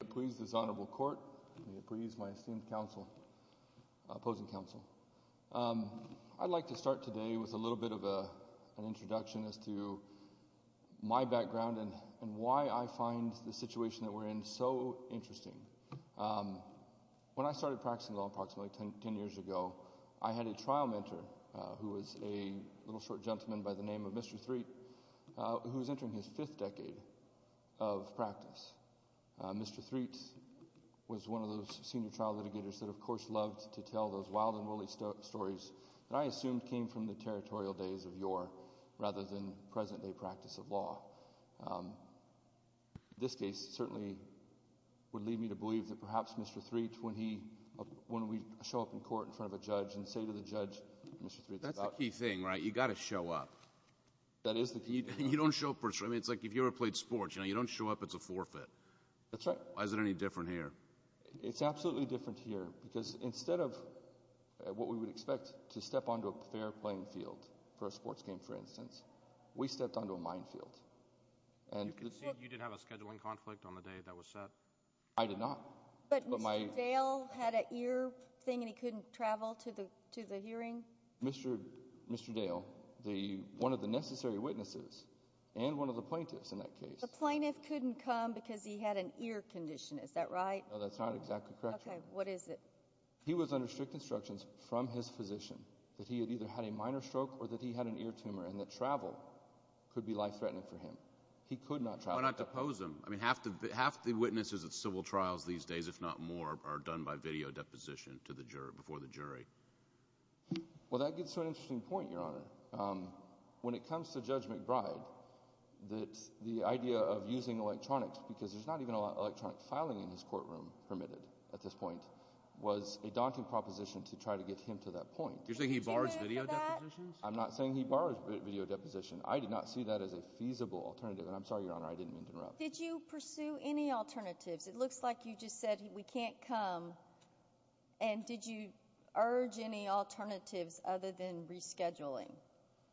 May it please this honorable court. May it please my esteemed opposing counsel. I'd like to start today with a little bit of an introduction as to my background and why I find the situation that we're in so interesting. When I started practicing law approximately 10 years ago, I had a trial mentor who was a little short gentleman by the name of Mr. Threatt, who was entering his fifth decade of practice. Mr. Threatt was one of those senior trial litigators that of course loved to tell those wild and woolly stories that I assumed came from the territorial days of yore rather than present day practice of law. This case certainly would lead me to believe that perhaps Mr. Threatt, when we show up in court in front of a judge and say to the judge, That's the key thing, right? You've got to show up. That is the key thing. You don't show up. It's like if you ever played sports, you don't show up, it's a forfeit. That's right. Why is it any different here? It's absolutely different here because instead of what we would expect to step onto a fair playing field for a sports game for instance, we stepped onto a minefield. You did have a scheduling conflict on the day that was set? I did not. But Mr. Dale had an ear thing and he couldn't travel to the hearing? Mr. Dale, one of the necessary witnesses and one of the plaintiffs in that case. The plaintiff couldn't come because he had an ear condition, is that right? No, that's not exactly correct. Okay, what is it? He was under strict instructions from his physician that he had either had a minor stroke or that he had an ear tumor and that travel could be life threatening for him. He could not travel. Why not depose him? Half the witnesses at civil trials these days, if not more, are done by video deposition before the jury. Well, that gets to an interesting point, Your Honor. When it comes to Judge McBride, the idea of using electronics because there's not even a lot of electronic filing in his courtroom permitted at this point was a daunting proposition to try to get him to that point. You're saying he borrows video depositions? I'm not saying he borrows video depositions. I did not see that as a feasible alternative, and I'm sorry, Your Honor, I didn't mean to interrupt. Did you pursue any alternatives? It looks like you just said we can't come, and did you urge any alternatives other than rescheduling?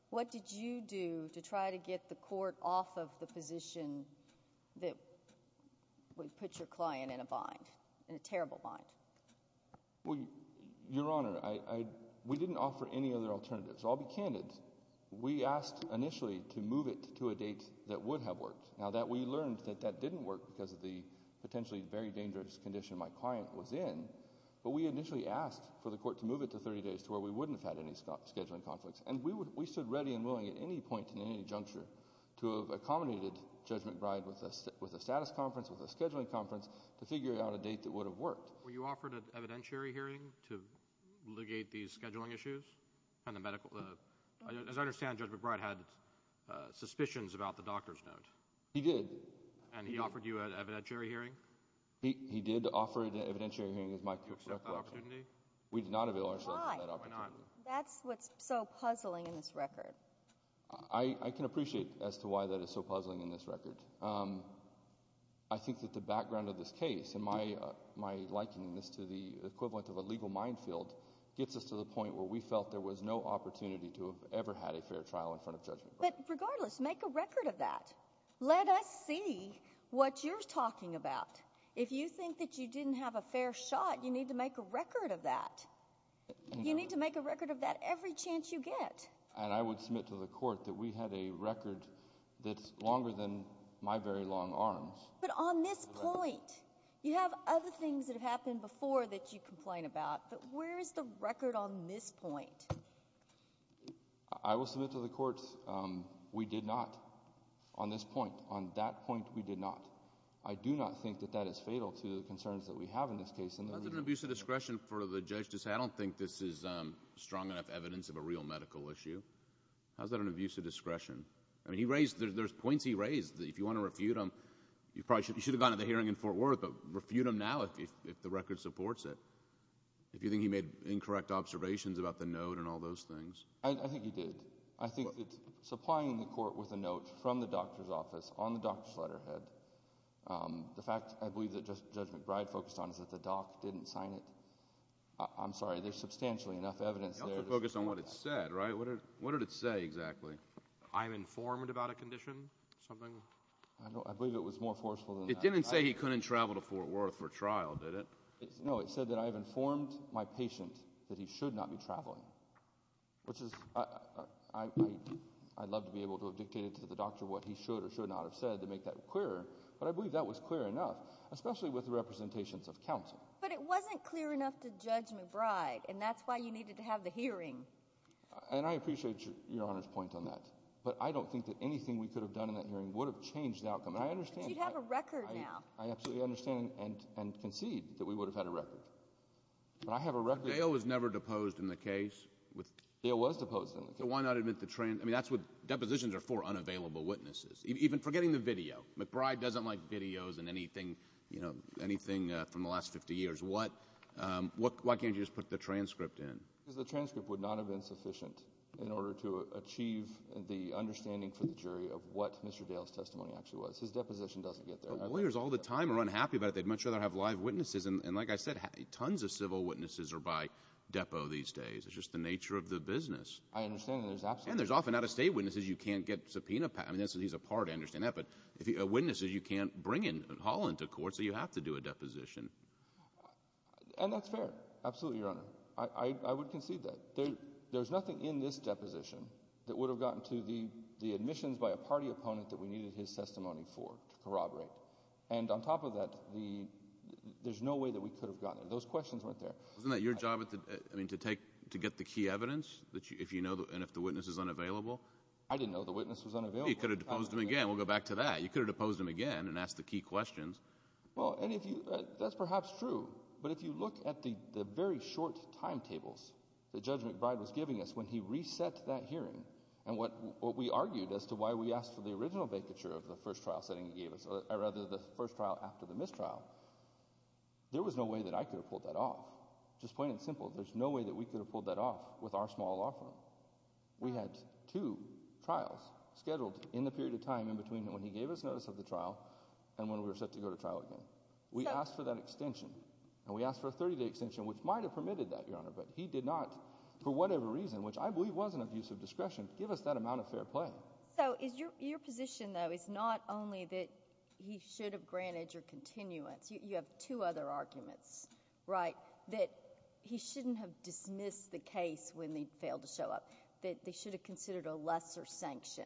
What did you do to try to get the court off of the position that would put your client in a bind, in a terrible bind? Well, Your Honor, we didn't offer any other alternatives. I'll be candid. We asked initially to move it to a date that would have worked. Now, we learned that that didn't work because of the potentially very dangerous condition my client was in, but we initially asked for the court to move it to 30 days to where we wouldn't have had any scheduling conflicts. And we stood ready and willing at any point in any juncture to have accommodated Judge McBride with a status conference, with a scheduling conference, to figure out a date that would have worked. Were you offered an evidentiary hearing to litigate these scheduling issues? As I understand, Judge McBride had suspicions about the doctor's note. He did. And he offered you an evidentiary hearing? He did offer an evidentiary hearing. Did you accept that opportunity? We did not avail ourselves of that opportunity. Why? Why not? That's what's so puzzling in this record. I can appreciate as to why that is so puzzling in this record. I think that the background of this case and my likeness to the equivalent of a legal minefield gets us to the point where we felt there was no opportunity to have ever had a fair trial in front of Judge McBride. But regardless, make a record of that. Let us see what you're talking about. If you think that you didn't have a fair shot, you need to make a record of that. You need to make a record of that every chance you get. And I would submit to the court that we had a record that's longer than my very long arms. But on this point, you have other things that have happened before that you complain about. But where is the record on this point? I will submit to the court we did not on this point. On that point, we did not. I do not think that that is fatal to the concerns that we have in this case. How is that an abuse of discretion for the judge to say I don't think this is strong enough evidence of a real medical issue? How is that an abuse of discretion? I mean there's points he raised. If you want to refute them, you should have gone to the hearing in Fort Worth, but refute them now if the record supports it. If you think he made incorrect observations about the note and all those things. I think he did. I think that supplying the court with a note from the doctor's office on the doctor's letterhead, the fact I believe that Judge McBride focused on is that the doc didn't sign it. I'm sorry, there's substantially enough evidence there. You have to focus on what it said, right? What did it say exactly? I'm informed about a condition, something. I believe it was more forceful than that. It didn't say he couldn't travel to Fort Worth for trial, did it? No, it said that I have informed my patient that he should not be traveling. I'd love to be able to have dictated to the doctor what he should or should not have said to make that clearer, but I believe that was clear enough, especially with the representations of counsel. But it wasn't clear enough to Judge McBride, and that's why you needed to have the hearing. And I appreciate Your Honor's point on that, but I don't think that anything we could have done in that hearing would have changed the outcome. But you have a record now. I absolutely understand and concede that we would have had a record. But I have a record. Dale was never deposed in the case. Dale was deposed in the case. So why not admit the transcript? I mean, that's what depositions are for, unavailable witnesses. Even forgetting the video. McBride doesn't like videos and anything from the last 50 years. Why can't you just put the transcript in? Because the transcript would not have been sufficient in order to achieve the understanding for the jury of what Mr. Dale's testimony actually was. His deposition doesn't get there. Lawyers all the time are unhappy about it. And like I said, tons of civil witnesses are by depo these days. It's just the nature of the business. I understand. And there's often out-of-state witnesses you can't get subpoenaed. I mean, he's a part. I understand that. But witnesses you can't bring in and haul into court, so you have to do a deposition. And that's fair. Absolutely, Your Honor. I would concede that. There's nothing in this deposition that would have gotten to the admissions by a party opponent that we needed his testimony for to corroborate. And on top of that, there's no way that we could have gotten there. Those questions weren't there. Wasn't that your job to get the key evidence and if the witness is unavailable? I didn't know the witness was unavailable. You could have deposed him again. We'll go back to that. You could have deposed him again and asked the key questions. Well, that's perhaps true. But if you look at the very short timetables that Judge McBride was giving us when he reset that hearing and what we argued as to why we asked for the original vacature of the first trial after the mistrial, there was no way that I could have pulled that off. Just plain and simple, there's no way that we could have pulled that off with our small law firm. We had two trials scheduled in the period of time in between when he gave us notice of the trial and when we were set to go to trial again. We asked for that extension, and we asked for a 30-day extension, which might have permitted that, Your Honor, but he did not, for whatever reason, which I believe was an abuse of discretion, give us that amount of fair play. So your position, though, is not only that he should have granted your continuance. You have two other arguments, right, that he shouldn't have dismissed the case when they failed to show up, that they should have considered a lesser sanction.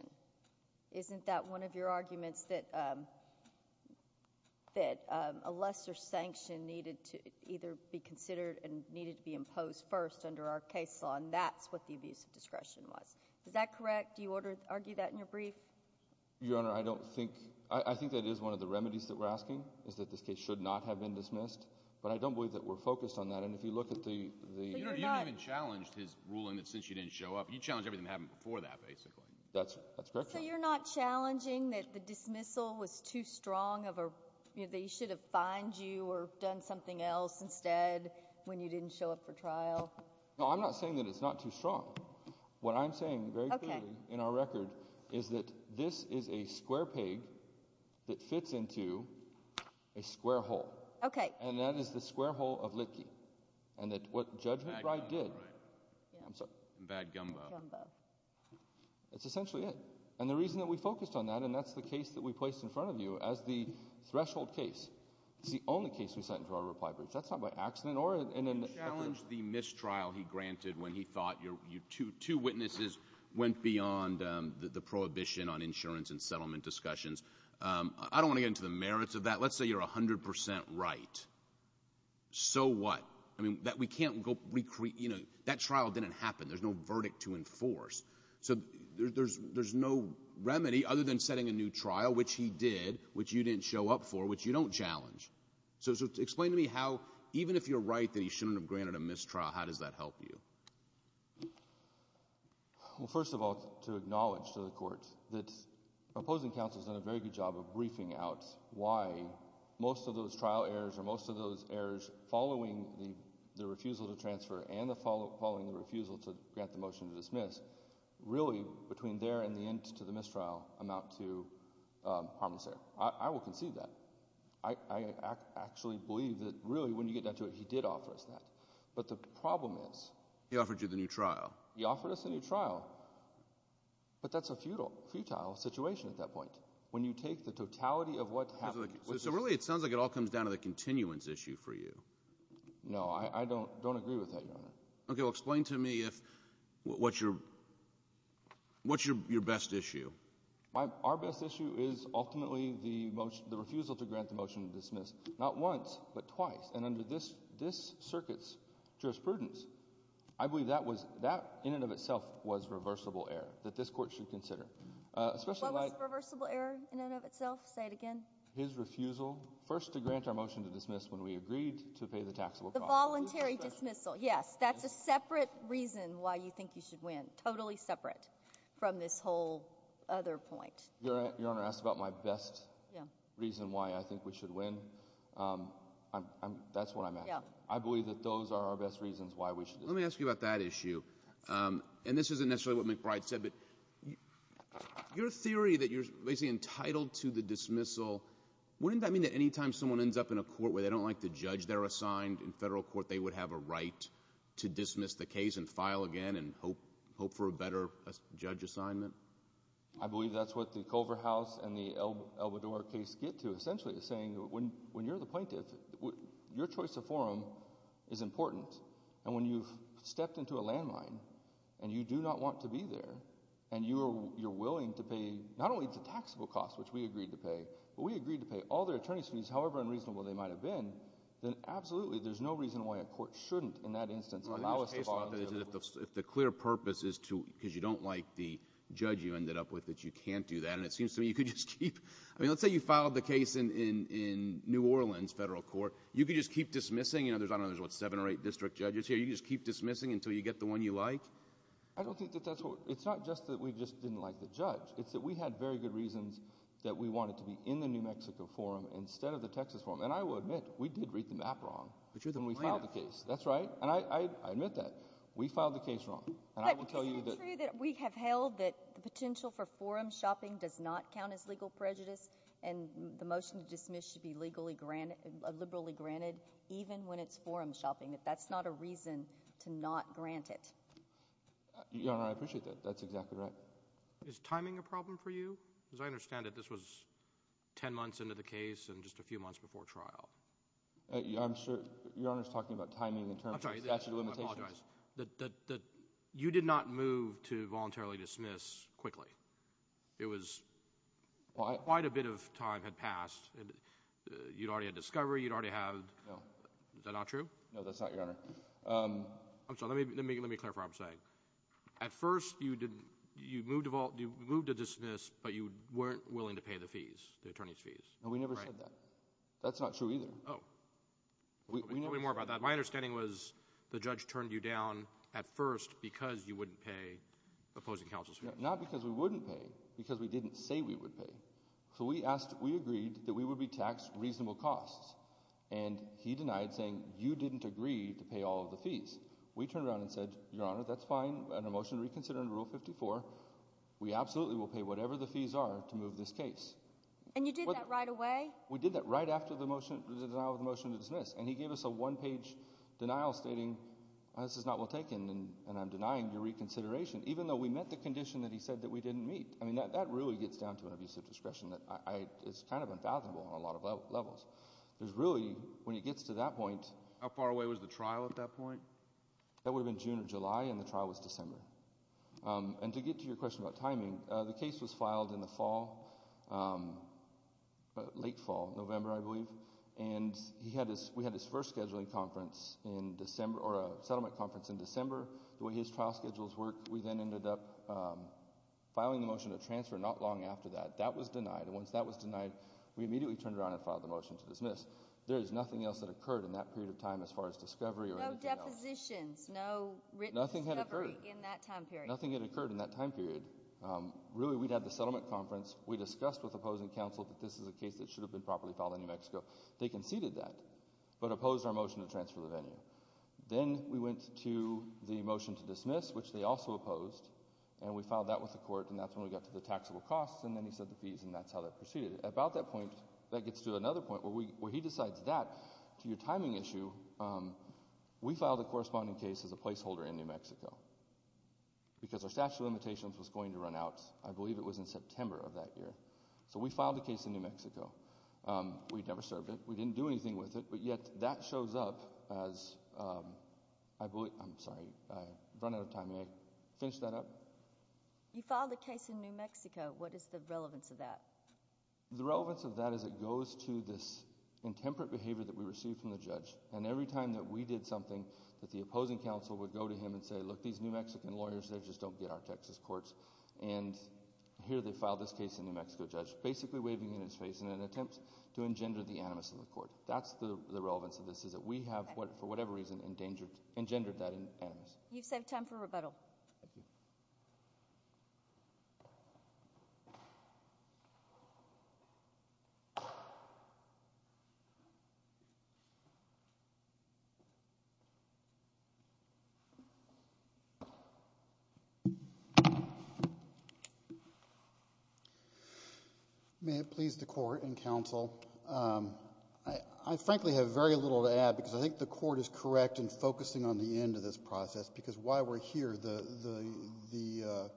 Isn't that one of your arguments, that a lesser sanction needed to either be considered and needed to be imposed first under our case law, and that's what the abuse of discretion was? Is that correct? Do you argue that in your brief? Your Honor, I think that is one of the remedies that we're asking, is that this case should not have been dismissed, but I don't believe that we're focused on that, and if you look at the— But you're not— You haven't even challenged his ruling that since you didn't show up. You challenged everything that happened before that, basically. That's correct, Your Honor. So you're not challenging that the dismissal was too strong of a— that he should have fined you or done something else instead when you didn't show up for trial? No, I'm not saying that it's not too strong. What I'm saying very clearly in our record is that this is a square pig that fits into a square hole. Okay. And that is the square hole of Litkey, and that what Judge McBride did— Bad gumbo, right? I'm sorry? Bad gumbo. Bad gumbo. It's essentially it, and the reason that we focused on that, and that's the case that we placed in front of you as the threshold case. It's the only case we sent into our reply brief. That's not by accident or in an effort— You challenged the mistrial he granted when he thought your two witnesses went beyond the prohibition on insurance and settlement discussions. I don't want to get into the merits of that. Let's say you're 100 percent right. So what? I mean, we can't go— That trial didn't happen. There's no verdict to enforce. So there's no remedy other than setting a new trial, which he did, which you didn't show up for, which you don't challenge. So explain to me how, even if you're right that he shouldn't have granted a mistrial, how does that help you? Well, first of all, to acknowledge to the court that opposing counsel has done a very good job of briefing out why most of those trial errors or most of those errors following the refusal to transfer and following the refusal to grant the motion to dismiss, really, between there and the end to the mistrial, amount to harmless error. I will concede that. I actually believe that, really, when you get down to it, he did offer us that. But the problem is— He offered you the new trial. He offered us a new trial. But that's a futile situation at that point. When you take the totality of what happened— So really it sounds like it all comes down to the continuance issue for you. No, I don't agree with that, Your Honor. Okay, well, explain to me what's your best issue. Our best issue is ultimately the refusal to grant the motion to dismiss, not once but twice. And under this circuit's jurisprudence, I believe that in and of itself was reversible error that this court should consider. What was reversible error in and of itself? Say it again. His refusal first to grant our motion to dismiss when we agreed to pay the taxable cost. The voluntary dismissal, yes. That's a separate reason why you think you should win, totally separate from this whole other point. Your Honor asked about my best reason why I think we should win. That's what I'm asking. I believe that those are our best reasons why we should dismiss. Let me ask you about that issue. And this isn't necessarily what McBride said, but your theory that you're basically entitled to the dismissal, wouldn't that mean that any time someone ends up in a court where they don't like the judge they're assigned in federal court, they would have a right to dismiss the case and file again and hope for a better judge assignment? I believe that's what the Culver House and the Albedor case get to, essentially, is saying when you're the plaintiff, your choice of forum is important. And when you've stepped into a landline and you do not want to be there and you're willing to pay not only the taxable cost, which we agreed to pay, but we agreed to pay all their attorney's fees, however unreasonable they might have been, then absolutely there's no reason why a court shouldn't, in that instance, allow us to volunteer. If the clear purpose is to, because you don't like the judge you ended up with, that you can't do that, and it seems to me you could just keep, I mean, let's say you filed the case in New Orleans federal court. You could just keep dismissing. I don't know, there's seven or eight district judges here. You could just keep dismissing until you get the one you like. I don't think that that's what, it's not just that we just didn't like the judge. It's that we had very good reasons that we wanted to be in the New Mexico forum instead of the Texas forum. And I will admit we did read the map wrong. But you're the plaintiff. That's right. And I admit that. We filed the case wrong. But isn't it true that we have held that the potential for forum shopping does not count as legal prejudice and the motion to dismiss should be legally granted, liberally granted, even when it's forum shopping? That that's not a reason to not grant it. Your Honor, I appreciate that. That's exactly right. Is timing a problem for you? Because I understand that this was ten months into the case and just a few months before trial. Your Honor's talking about timing in terms of statute of limitations. I'm sorry, I apologize. You did not move to voluntarily dismiss quickly. It was, quite a bit of time had passed. You'd already had discovery, you'd already had. No. Is that not true? No, that's not, Your Honor. I'm sorry, let me clarify what I'm saying. At first, you moved to dismiss, but you weren't willing to pay the fees, the attorney's fees. No, we never said that. That's not true either. Tell me more about that. My understanding was the judge turned you down at first because you wouldn't pay opposing counsel's fees. Not because we wouldn't pay, because we didn't say we would pay. So we asked, we agreed that we would be taxed reasonable costs, and he denied saying you didn't agree to pay all of the fees. We turned around and said, Your Honor, that's fine. Under Motion to Reconsider and Rule 54, we absolutely will pay whatever the fees are to move this case. And you did that right away? We did that right after the denial of the motion to dismiss, and he gave us a one-page denial stating this is not well taken and I'm denying your reconsideration, even though we met the condition that he said that we didn't meet. I mean, that really gets down to an abuse of discretion that is kind of unfathomable on a lot of levels. There's really, when it gets to that point— How far away was the trial at that point? That would have been June or July, and the trial was December. And to get to your question about timing, the case was filed in the fall, late fall, November, I believe, and we had his first scheduling conference in December, or a settlement conference in December. The way his trial schedules work, we then ended up filing the motion to transfer not long after that. That was denied, and once that was denied, we immediately turned around and filed the motion to dismiss. There is nothing else that occurred in that period of time as far as discovery or anything else. No acquisitions, no written discovery in that time period? Nothing had occurred in that time period. Really, we'd had the settlement conference. We discussed with opposing counsel that this is a case that should have been properly filed in New Mexico. They conceded that, but opposed our motion to transfer the venue. Then we went to the motion to dismiss, which they also opposed, and we filed that with the court, and that's when we got to the taxable costs, and then he said the fees, and that's how that proceeded. At about that point, that gets to another point where he decides that, to your timing issue, we filed a corresponding case as a placeholder in New Mexico because our statute of limitations was going to run out. I believe it was in September of that year, so we filed a case in New Mexico. We never served it. We didn't do anything with it, but yet that shows up as, I'm sorry, I've run out of time. May I finish that up? You filed a case in New Mexico. What is the relevance of that? The relevance of that is it goes to this intemperate behavior that we received from the judge, and every time that we did something that the opposing counsel would go to him and say, look, these New Mexican lawyers, they just don't get our Texas courts, and here they filed this case in New Mexico. Judge basically waving in his face in an attempt to engender the animus of the court. That's the relevance of this is that we have, for whatever reason, engendered that animus. You've saved time for rebuttal. May it please the Court and counsel, I frankly have very little to add because I think the Court is correct in focusing on the end of this process because while we're here, the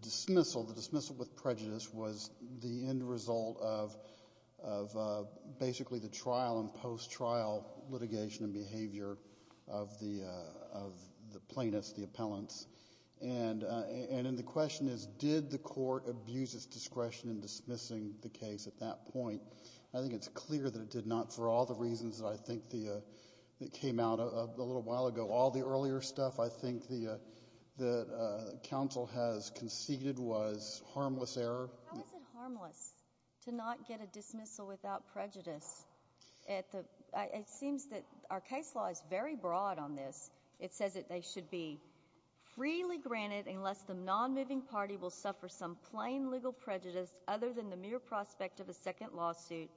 dismissal, the dismissal with prejudice, was the end result of basically the trial and post-trial litigation and behavior of the plaintiffs, the appellants. And the question is, did the court abuse its discretion in dismissing the case at that point? I think it's clear that it did not for all the reasons that I think came out a little while ago. All the earlier stuff I think that counsel has conceded was harmless error. How is it harmless to not get a dismissal without prejudice? It seems that our case law is very broad on this. It says that they should be freely granted unless the non-moving party will suffer some plain legal prejudice other than the mere prospect of a second lawsuit.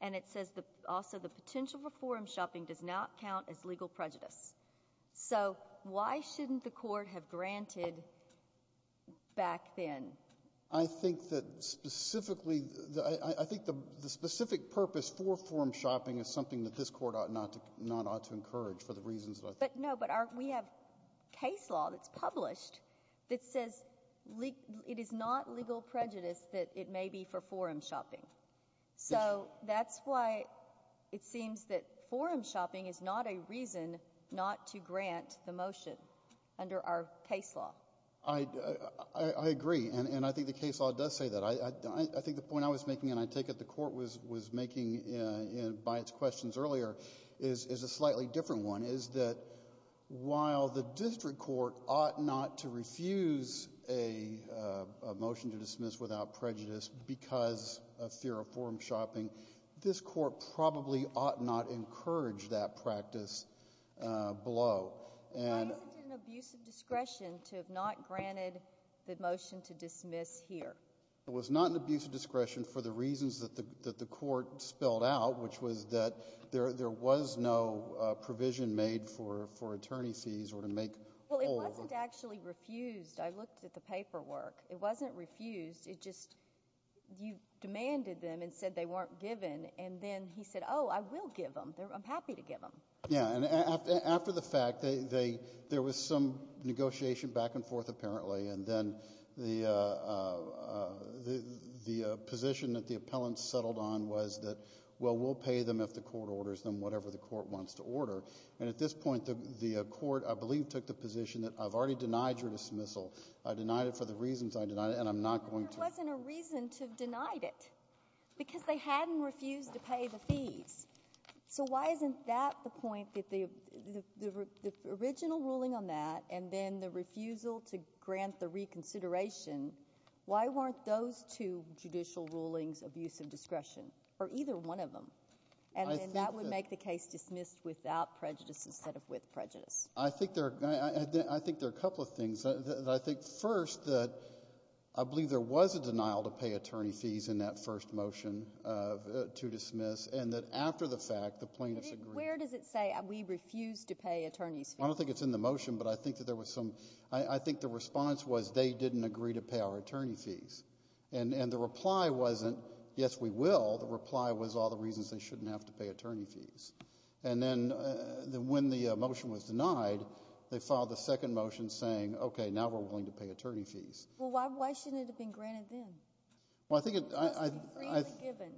And it says also the potential for forum shopping does not count as legal prejudice. So why shouldn't the Court have granted back then? I think that specifically, I think the specific purpose for forum shopping is something that this Court ought not to encourage for the reasons that I think. But no, but we have case law that's published that says it is not legal prejudice that it may be for forum shopping. So that's why it seems that forum shopping is not a reason not to grant the motion under our case law. I agree, and I think the case law does say that. I think the point I was making, and I take it the Court was making by its questions earlier, is a slightly different one, is that while the district court ought not to refuse a motion to dismiss without prejudice because of fear of forum shopping, this Court probably ought not encourage that practice below. Why is it an abuse of discretion to have not granted the motion to dismiss here? It was not an abuse of discretion for the reasons that the Court spelled out, which was that there was no provision made for attorney fees or to make all of them. Well, it wasn't actually refused. I looked at the paperwork. It wasn't refused. It just you demanded them and said they weren't given, and then he said, oh, I will give them. I'm happy to give them. Yeah, and after the fact, there was some negotiation back and forth apparently, and then the position that the appellants settled on was that, well, we'll pay them if the Court orders them whatever the Court wants to order. And at this point, the Court, I believe, took the position that I've already denied your dismissal. I denied it for the reasons I denied it, and I'm not going to. But there wasn't a reason to have denied it because they hadn't refused to pay the fees. So why isn't that the point that the original ruling on that and then the refusal to grant the reconsideration, why weren't those two judicial rulings abuse of discretion or either one of them? And then that would make the case dismissed without prejudice instead of with prejudice. I think there are a couple of things. I think first that I believe there was a denial to pay attorney fees in that first motion to dismiss, and that after the fact, the plaintiffs agreed. Where does it say we refuse to pay attorneys' fees? I don't think it's in the motion, but I think that there was some ‑‑ I think the response was they didn't agree to pay our attorney fees. And the reply wasn't yes, we will. The reply was all the reasons they shouldn't have to pay attorney fees. And then when the motion was denied, they filed a second motion saying, okay, now we're willing to pay attorney fees. Well, why shouldn't it have been granted then? Well, I think it ‑‑ It must be freely given.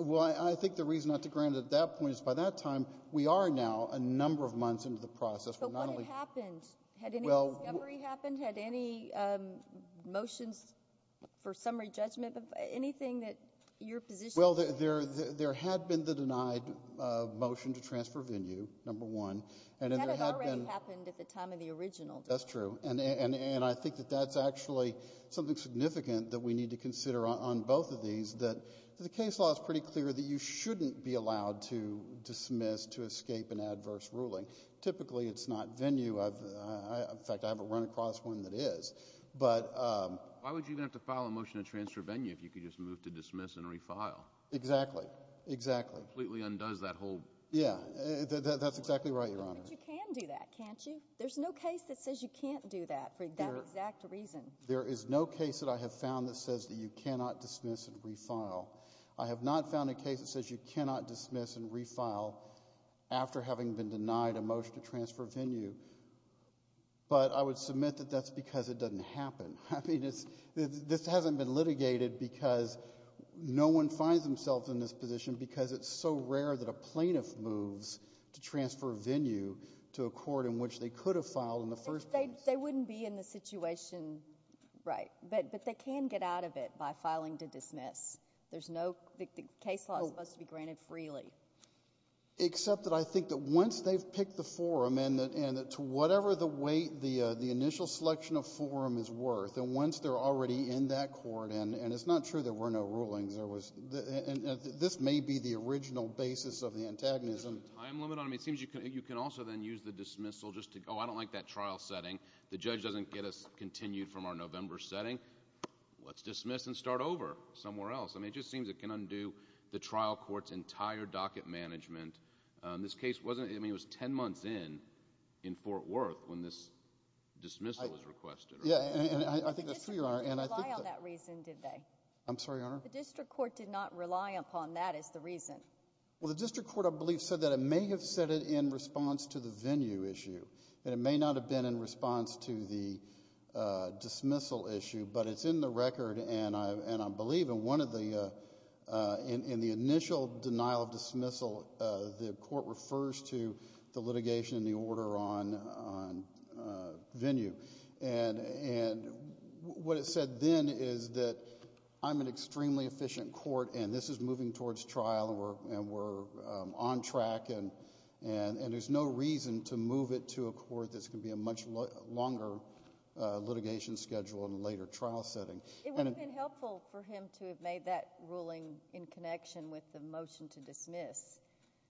Well, I think the reason not to grant it at that point is by that time, we are now a number of months into the process. But what had happened? Had any discovery happened? Had any motions for summary judgment, anything that your position was? Well, there had been the denied motion to transfer venue, number one. That had already happened at the time of the original. That's true. And I think that that's actually something significant that we need to consider on both of these, that the case law is pretty clear that you shouldn't be allowed to dismiss to escape an adverse ruling. Typically, it's not venue. In fact, I haven't run across one that is. Why would you even have to file a motion to transfer venue if you could just move to dismiss and refile? Exactly, exactly. Completely undoes that whole ‑‑ Yeah, that's exactly right, Your Honor. But you can do that, can't you? There's no case that says you can't do that for that exact reason. There is no case that I have found that says that you cannot dismiss and refile. I have not found a case that says you cannot dismiss and refile after having been denied a motion to transfer venue. But I would submit that that's because it doesn't happen. I mean, this hasn't been litigated because no one finds themselves in this position because it's so rare that a plaintiff moves to transfer venue to a court in which they could have filed in the first place. They wouldn't be in the situation, right. But they can get out of it by filing to dismiss. There's no ‑‑ the case law is supposed to be granted freely. Except that I think that once they've picked the forum and to whatever the weight the initial selection of forum is worth, and once they're already in that court, and it's not true there were no rulings, this may be the original basis of the antagonism. Is there a time limit on it? It seems you can also then use the dismissal just to go, oh, I don't like that trial setting. The judge doesn't get us continued from our November setting. Let's dismiss and start over somewhere else. I mean, it just seems it can undo the trial court's entire docket management. This case wasn't ‑‑ I mean, it was ten months in, in Fort Worth, when this dismissal was requested. Yeah, and I think that's true, Your Honor. The district court didn't rely on that reason, did they? I'm sorry, Your Honor? The district court did not rely upon that as the reason. Well, the district court, I believe, said that it may have said it in response to the venue issue, and it may not have been in response to the dismissal issue, but it's in the record, and I believe in one of the ‑‑ in the initial denial of dismissal, the court refers to the litigation and the order on venue. And what it said then is that I'm an extremely efficient court, and this is moving towards trial, and we're on track, and there's no reason to move it to a court that's going to be a much longer litigation schedule and later trial setting. It would have been helpful for him to have made that ruling in connection with the motion to dismiss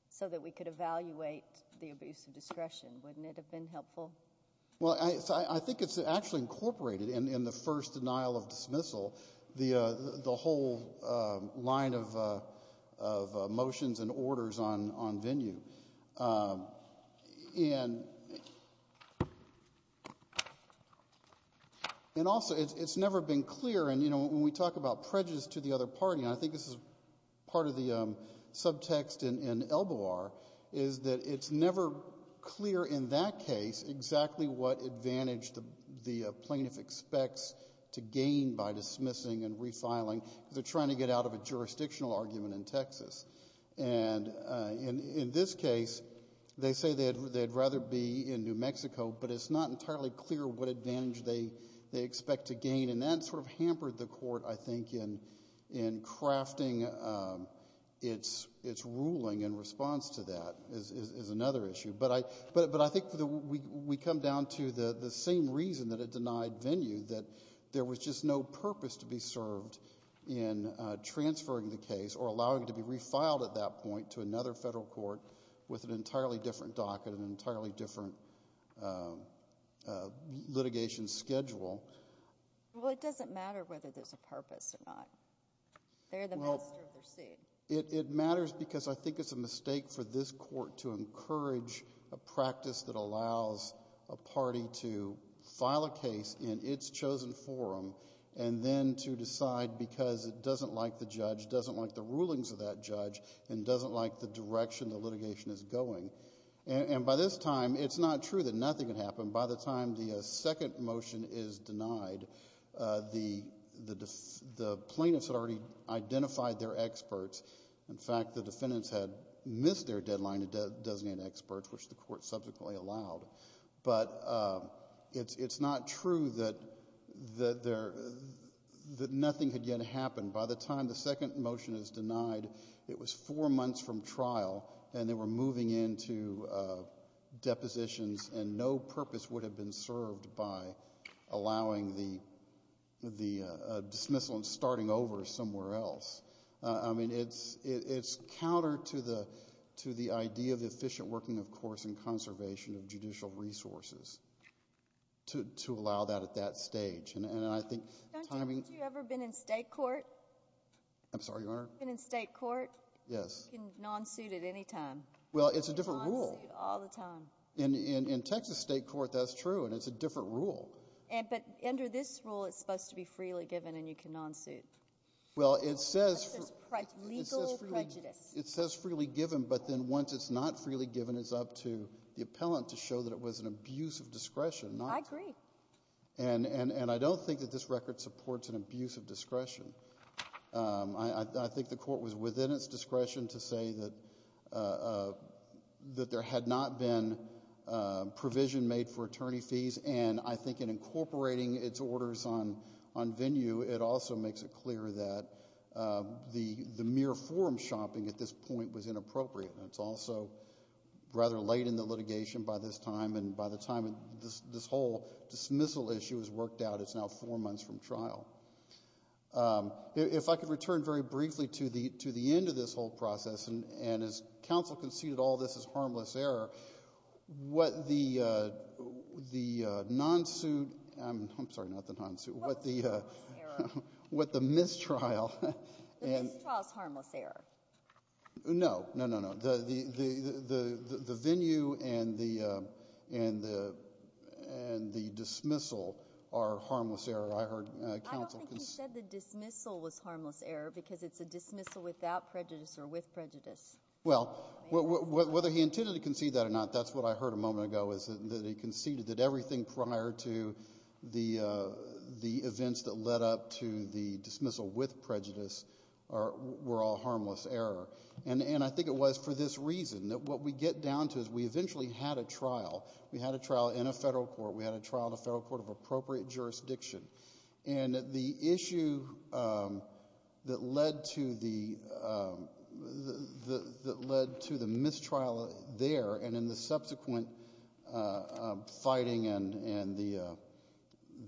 so that we could evaluate the abuse of discretion. Wouldn't it have been helpful? Well, I think it's actually incorporated in the first denial of dismissal, the whole line of motions and orders on venue. And also, it's never been clear, and, you know, when we talk about prejudice to the other party, and I think this is part of the subtext in Elbowar, is that it's never clear in that case exactly what advantage the plaintiff expects to gain by dismissing and refiling because they're trying to get out of a jurisdictional argument in Texas. And in this case, they say they'd rather be in New Mexico, but it's not entirely clear what advantage they expect to gain, and that sort of hampered the court, I think, in crafting its ruling in response to that is another issue. But I think we come down to the same reason that it denied venue, that there was just no purpose to be served in transferring the case or allowing it to be refiled at that point to another federal court with an entirely different docket, an entirely different litigation schedule. Well, it doesn't matter whether there's a purpose or not. They're the master of their seat. It matters because I think it's a mistake for this court to encourage a practice that allows a party to file a case in its chosen forum and then to decide because it doesn't like the judge, doesn't like the rulings of that judge, and doesn't like the direction the litigation is going. And by this time, it's not true that nothing had happened. By the time the second motion is denied, the plaintiffs had already identified their experts. In fact, the defendants had missed their deadline to designate experts, which the court subsequently allowed. But it's not true that nothing had yet happened. By the time the second motion is denied, it was four months from trial, and they were moving into depositions, and no purpose would have been served by allowing the dismissal and starting over somewhere else. I mean, it's counter to the idea of efficient working, of course, and conservation of judicial resources to allow that at that stage. And I think timing— Don't you ever been in state court? I'm sorry, Your Honor? Been in state court? Yes. You can nonsuit at any time. Well, it's a different rule. You can nonsuit all the time. In Texas state court, that's true, and it's a different rule. But under this rule, it's supposed to be freely given, and you can nonsuit. Well, it says— It says legal prejudice. It says freely given, but then once it's not freely given, it's up to the appellant to show that it was an abuse of discretion. I agree. And I don't think that this record supports an abuse of discretion. I think the court was within its discretion to say that there had not been provision made for attorney fees, and I think in incorporating its orders on venue, it also makes it clear that the mere forum shopping at this point was inappropriate. It's also rather late in the litigation by this time, and by the time this whole dismissal issue has worked out, it's now four months from trial. If I could return very briefly to the end of this whole process, and as counsel conceded all this is harmless error, what the nonsuit—I'm sorry, not the nonsuit— What's the harmless error? What the mistrial— The mistrial is harmless error. No, no, no, no. The venue and the dismissal are harmless error. I heard counsel— I don't think he said the dismissal was harmless error because it's a dismissal without prejudice or with prejudice. Well, whether he intended to concede that or not, that's what I heard a moment ago, is that he conceded that everything prior to the events that led up to the dismissal with prejudice were all harmless error. And I think it was for this reason, that what we get down to is we eventually had a trial. We had a trial in a federal court. We had a trial in a federal court of appropriate jurisdiction. And the issue that led to the mistrial there and in the subsequent fighting and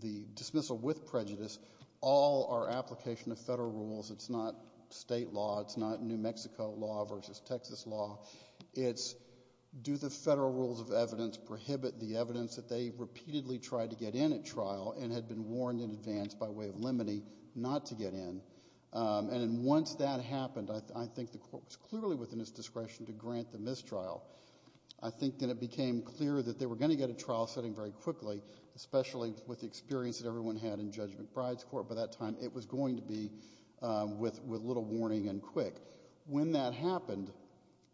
the dismissal with prejudice, all are application of federal rules. It's not state law. It's not New Mexico law versus Texas law. It's do the federal rules of evidence prohibit the evidence that they repeatedly tried to get in at trial and had been warned in advance by way of limine not to get in. And once that happened, I think the court was clearly within its discretion to grant the mistrial. I think that it became clear that they were going to get a trial setting very quickly, especially with the experience that everyone had in Judge McBride's court. By that time, it was going to be with little warning and quick. When that happened,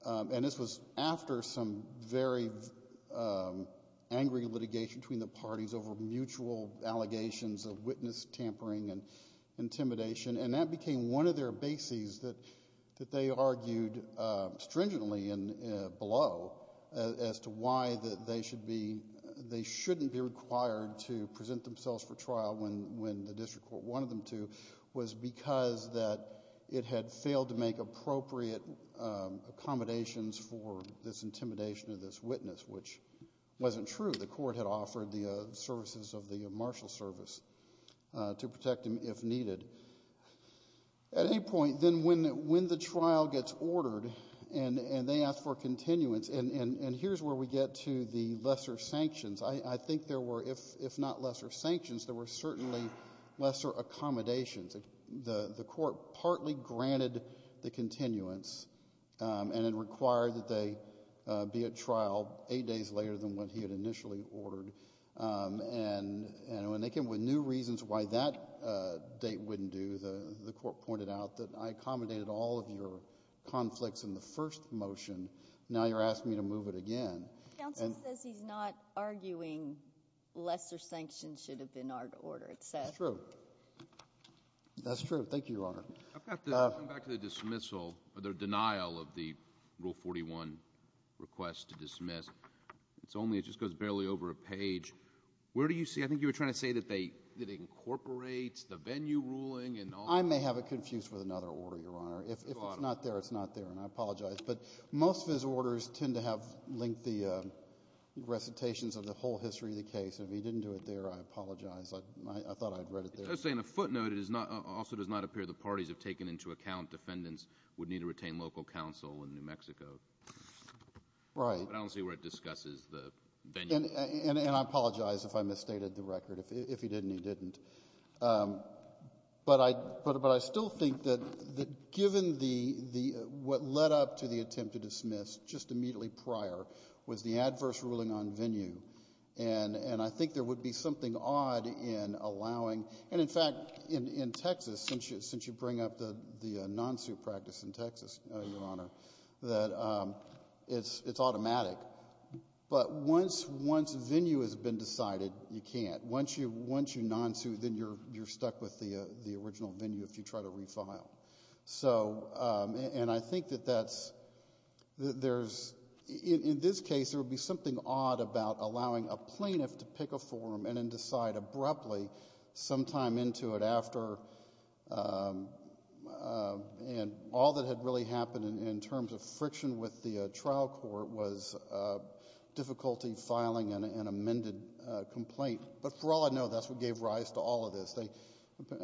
and this was after some very angry litigation between the parties over mutual allegations of witness tampering and intimidation, and that became one of their bases that they argued stringently below as to why they shouldn't be required to present themselves for trial when the district court wanted them to, was because that it had failed to make appropriate accommodations for this intimidation of this witness, which wasn't true. The court had offered the services of the marshal service to protect him if needed. At any point, then when the trial gets ordered and they ask for continuance, and here's where we get to the lesser sanctions. I think there were, if not lesser sanctions, there were certainly lesser accommodations. The court partly granted the continuance and it required that they be at trial eight days later than what he had initially ordered. And when they came up with new reasons why that date wouldn't do, the court pointed out that I accommodated all of your conflicts in the first motion. Now you're asking me to move it again. Counsel says he's not arguing lesser sanctions should have been our order, it says. That's true. That's true. Thank you, Your Honor. I've got to come back to the dismissal or the denial of the Rule 41 request to dismiss. It's only, it just goes barely over a page. Where do you see, I think you were trying to say that they incorporate the venue ruling and all that. I may have it confused with another order, Your Honor. If it's not there, it's not there, and I apologize. But most of his orders tend to have lengthy recitations of the whole history of the case. If he didn't do it there, I apologize. I thought I had read it there. Just saying a footnote, it also does not appear the parties have taken into account defendants would need to retain local counsel in New Mexico. Right. But I don't see where it discusses the venue. And I apologize if I misstated the record. If he didn't, he didn't. But I still think that given the, what led up to the attempt to dismiss just immediately prior was the adverse ruling on venue. And I think there would be something odd in allowing, and in fact, in Texas, since you bring up the non-suit practice in Texas, Your Honor, that it's automatic. But once venue has been decided, you can't. Once you non-suit, then you're stuck with the original venue if you try to refile. So, and I think that that's, there's, in this case, there would be something odd about allowing a plaintiff to pick a forum and then decide abruptly sometime into it after, and all that had really happened in terms of friction with the trial court was difficulty filing an amended complaint. But for all I know, that's what gave rise to all of this. They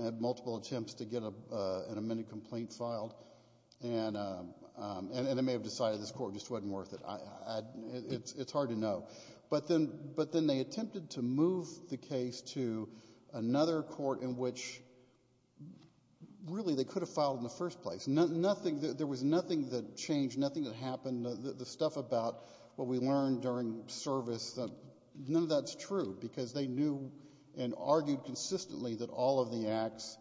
had multiple attempts to get an amended complaint filed, and they may have decided this court just wasn't worth it. It's hard to know. But then they attempted to move the case to another court in which, really, they could have filed in the first place. There was nothing that changed, nothing that happened. The stuff about what we learned during service, none of that's true because they knew and argued consistently that all of the acts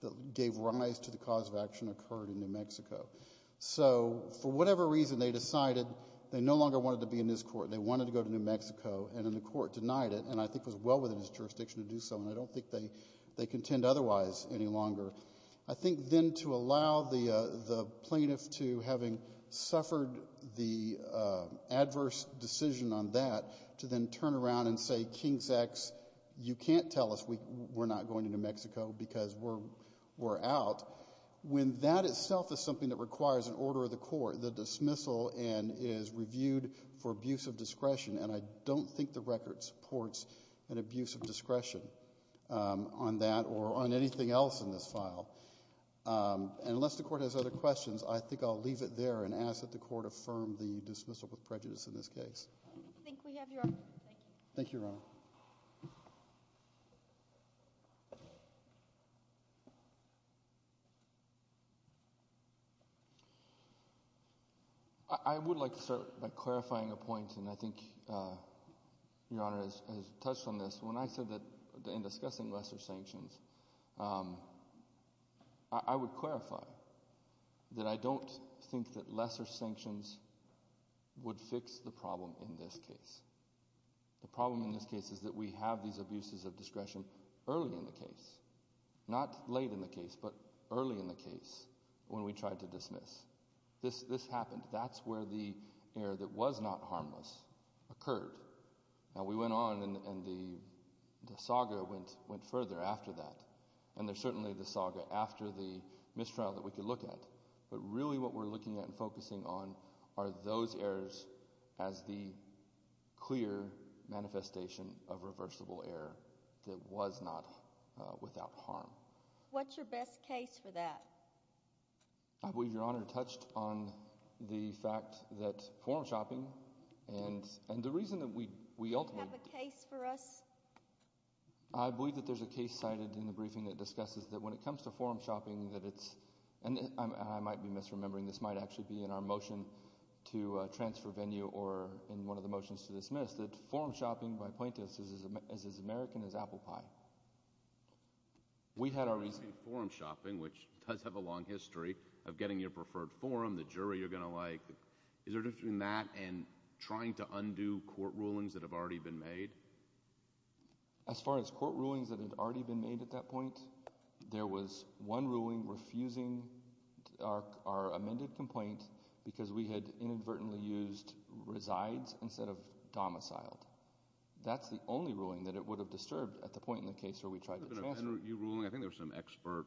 that gave rise to the cause of action occurred in New Mexico. So for whatever reason, they decided they no longer wanted to be in this court. They wanted to go to New Mexico, and then the court denied it, and I think it was well within its jurisdiction to do so, and I don't think they contend otherwise any longer. I think then to allow the plaintiff to, having suffered the adverse decision on that, to then turn around and say, King's X, you can't tell us we're not going to New Mexico because we're out, when that itself is something that requires an order of the court, the dismissal is reviewed for abuse of discretion, and I don't think the record supports an abuse of discretion on that or on anything else in this file. Unless the court has other questions, I think I'll leave it there and ask that the court affirm the dismissal with prejudice in this case. I think we have your honor. Thank you. Thank you, Your Honor. I would like to start by clarifying a point, and I think Your Honor has touched on this. When I said that in discussing lesser sanctions, I would clarify that I don't think that lesser sanctions would fix the problem in this case. The problem in this case is that we have these abuses of discretion early in the case, not late in the case, but early in the case when we tried to dismiss. This happened. That's where the error that was not harmless occurred. Now, we went on and the saga went further after that, and there's certainly the saga after the mistrial that we could look at, but really what we're looking at and focusing on are those errors as the clear manifestation of reversible error that was not without harm. What's your best case for that? I believe Your Honor touched on the fact that form shopping and the reason that we ultimately— Do you have a case for us? I believe that there's a case cited in the briefing that discusses that when it comes to form shopping that it's— and I might be misremembering, this might actually be in our motion to transfer venue or in one of the motions to dismiss—that form shopping by plaintiffs is as American as apple pie. We had our reason— Form shopping, which does have a long history of getting your preferred form, the jury you're going to like. Is there a difference between that and trying to undo court rulings that have already been made? As far as court rulings that had already been made at that point, there was one ruling refusing our amended complaint because we had inadvertently used resides instead of domiciled. That's the only ruling that it would have disturbed at the point in the case where we tried to transfer. I think there were some expert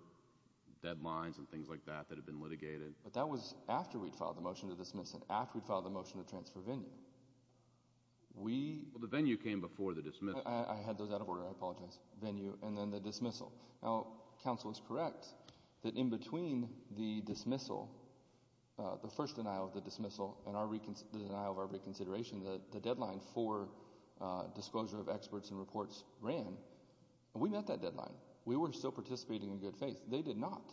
deadlines and things like that that had been litigated. But that was after we'd filed the motion to dismiss and after we'd filed the motion to transfer venue. The venue came before the dismissal. I had those out of order. I apologize. Venue and then the dismissal. Now, counsel is correct that in between the dismissal, the first denial of the dismissal, and the denial of our reconsideration, the deadline for disclosure of experts and reports ran. We met that deadline. We were still participating in good faith. They did not.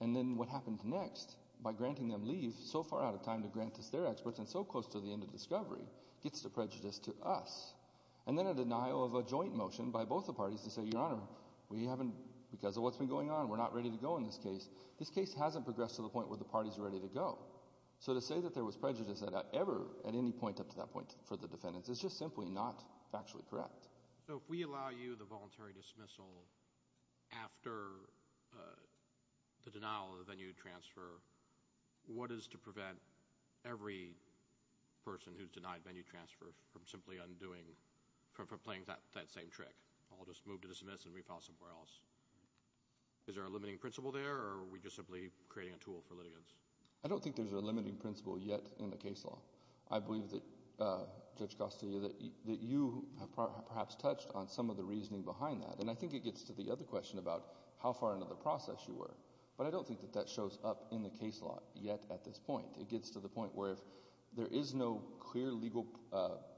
And then what happened next, by granting them leave so far out of time to grant us their experts and so close to the end of discovery, gets the prejudice to us. And then a denial of a joint motion by both the parties to say, Your Honor, because of what's been going on, we're not ready to go in this case. This case hasn't progressed to the point where the parties are ready to go. So to say that there was prejudice at any point up to that point for the defendants is just simply not factually correct. So if we allow you the voluntary dismissal after the denial of the venue transfer, what is to prevent every person who's denied venue transfer from simply undoing, from playing that same trick? I'll just move to dismiss and refile somewhere else. Is there a limiting principle there, or are we just simply creating a tool for litigants? I don't think there's a limiting principle yet in the case law. I believe that, Judge Costillo, that you have perhaps touched on some of the reasoning behind that. And I think it gets to the other question about how far into the process you were. But I don't think that that shows up in the case law yet at this point. It gets to the point where if there is no clear legal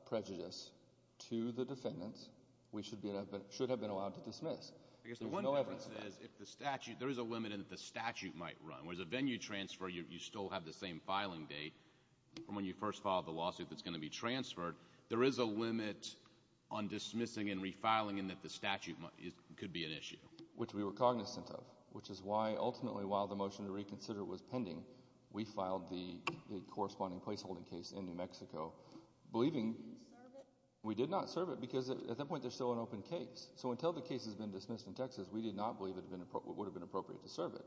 prejudice to the defendants, we should have been allowed to dismiss. I guess the one difference is if the statute, there is a limit in that the statute might run. Whereas a venue transfer, you still have the same filing date from when you first filed the lawsuit that's going to be transferred. There is a limit on dismissing and refiling in that the statute could be an issue. Which we were cognizant of, which is why ultimately while the motion to reconsider was pending, we filed the corresponding placeholding case in New Mexico. Did you serve it? We did not serve it because at that point there's still an open case. So until the case has been dismissed in Texas, we did not believe it would have been appropriate to serve it.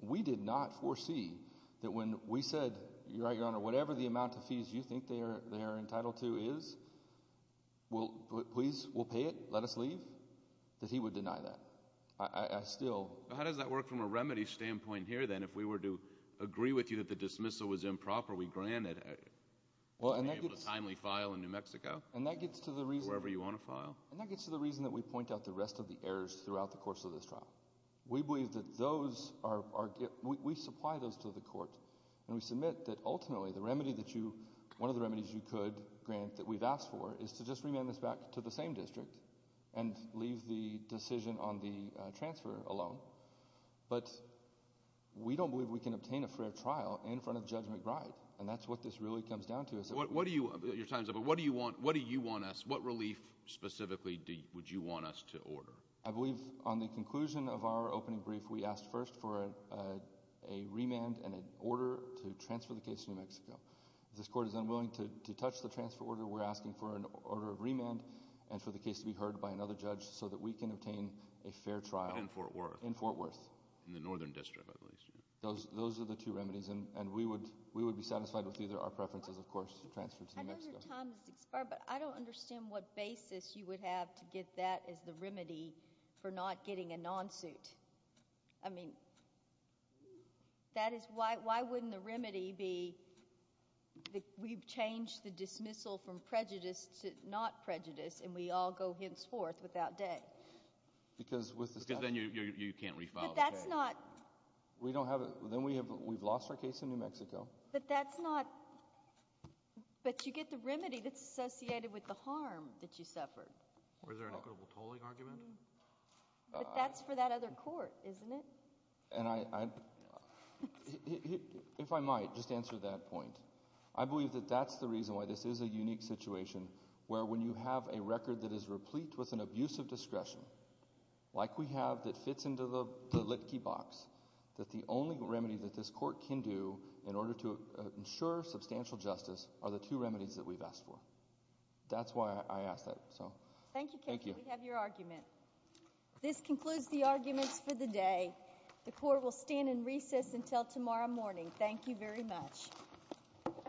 We did not foresee that when we said, Your Honor, whatever the amount of fees you think they are entitled to is, please, we'll pay it, let us leave, that he would deny that. I still— How does that work from a remedy standpoint here then? If we were to agree with you that the dismissal was improper, we granted a timely file in New Mexico? And that gets to the reason— Wherever you want to file? And that gets to the reason that we point out the rest of the errors throughout the course of this trial. We believe that those are—we supply those to the court, and we submit that ultimately the remedy that you—one of the remedies you could grant that we've asked for is to just remand this back to the same district and leave the decision on the transfer alone. But we don't believe we can obtain a fair trial in front of Judge McBride, and that's what this really comes down to. What do you—your time's up, but what do you want us—what relief specifically would you want us to order? I believe on the conclusion of our opening brief we asked first for a remand and an order to transfer the case to New Mexico. If this court is unwilling to touch the transfer order, we're asking for an order of remand and for the case to be heard by another judge so that we can obtain a fair trial— In Fort Worth. In Fort Worth. In the northern district, at least. Those are the two remedies, and we would be satisfied with either. Our preference is, of course, to transfer to New Mexico. I know your time has expired, but I don't understand what basis you would have to get that as the remedy for not getting a non-suit. I mean, that is—why wouldn't the remedy be that we've changed the dismissal from prejudice to not prejudice and we all go henceforth without day? Because with the statute— Because then you can't refile. But that's not— We don't have—then we've lost our case in New Mexico. But that's not—but you get the remedy that's associated with the harm that you suffered. Was there an equitable tolling argument? But that's for that other court, isn't it? And I—if I might, just to answer that point, I believe that that's the reason why this is a unique situation where when you have a record that is replete with an abuse of discretion, like we have that fits into the lit-key box, that the only remedy that this court can do in order to ensure substantial justice are the two remedies that we've asked for. That's why I ask that. Thank you, Kevin. Thank you. We have your argument. This concludes the arguments for the day. The court will stand in recess until tomorrow morning. Thank you very much.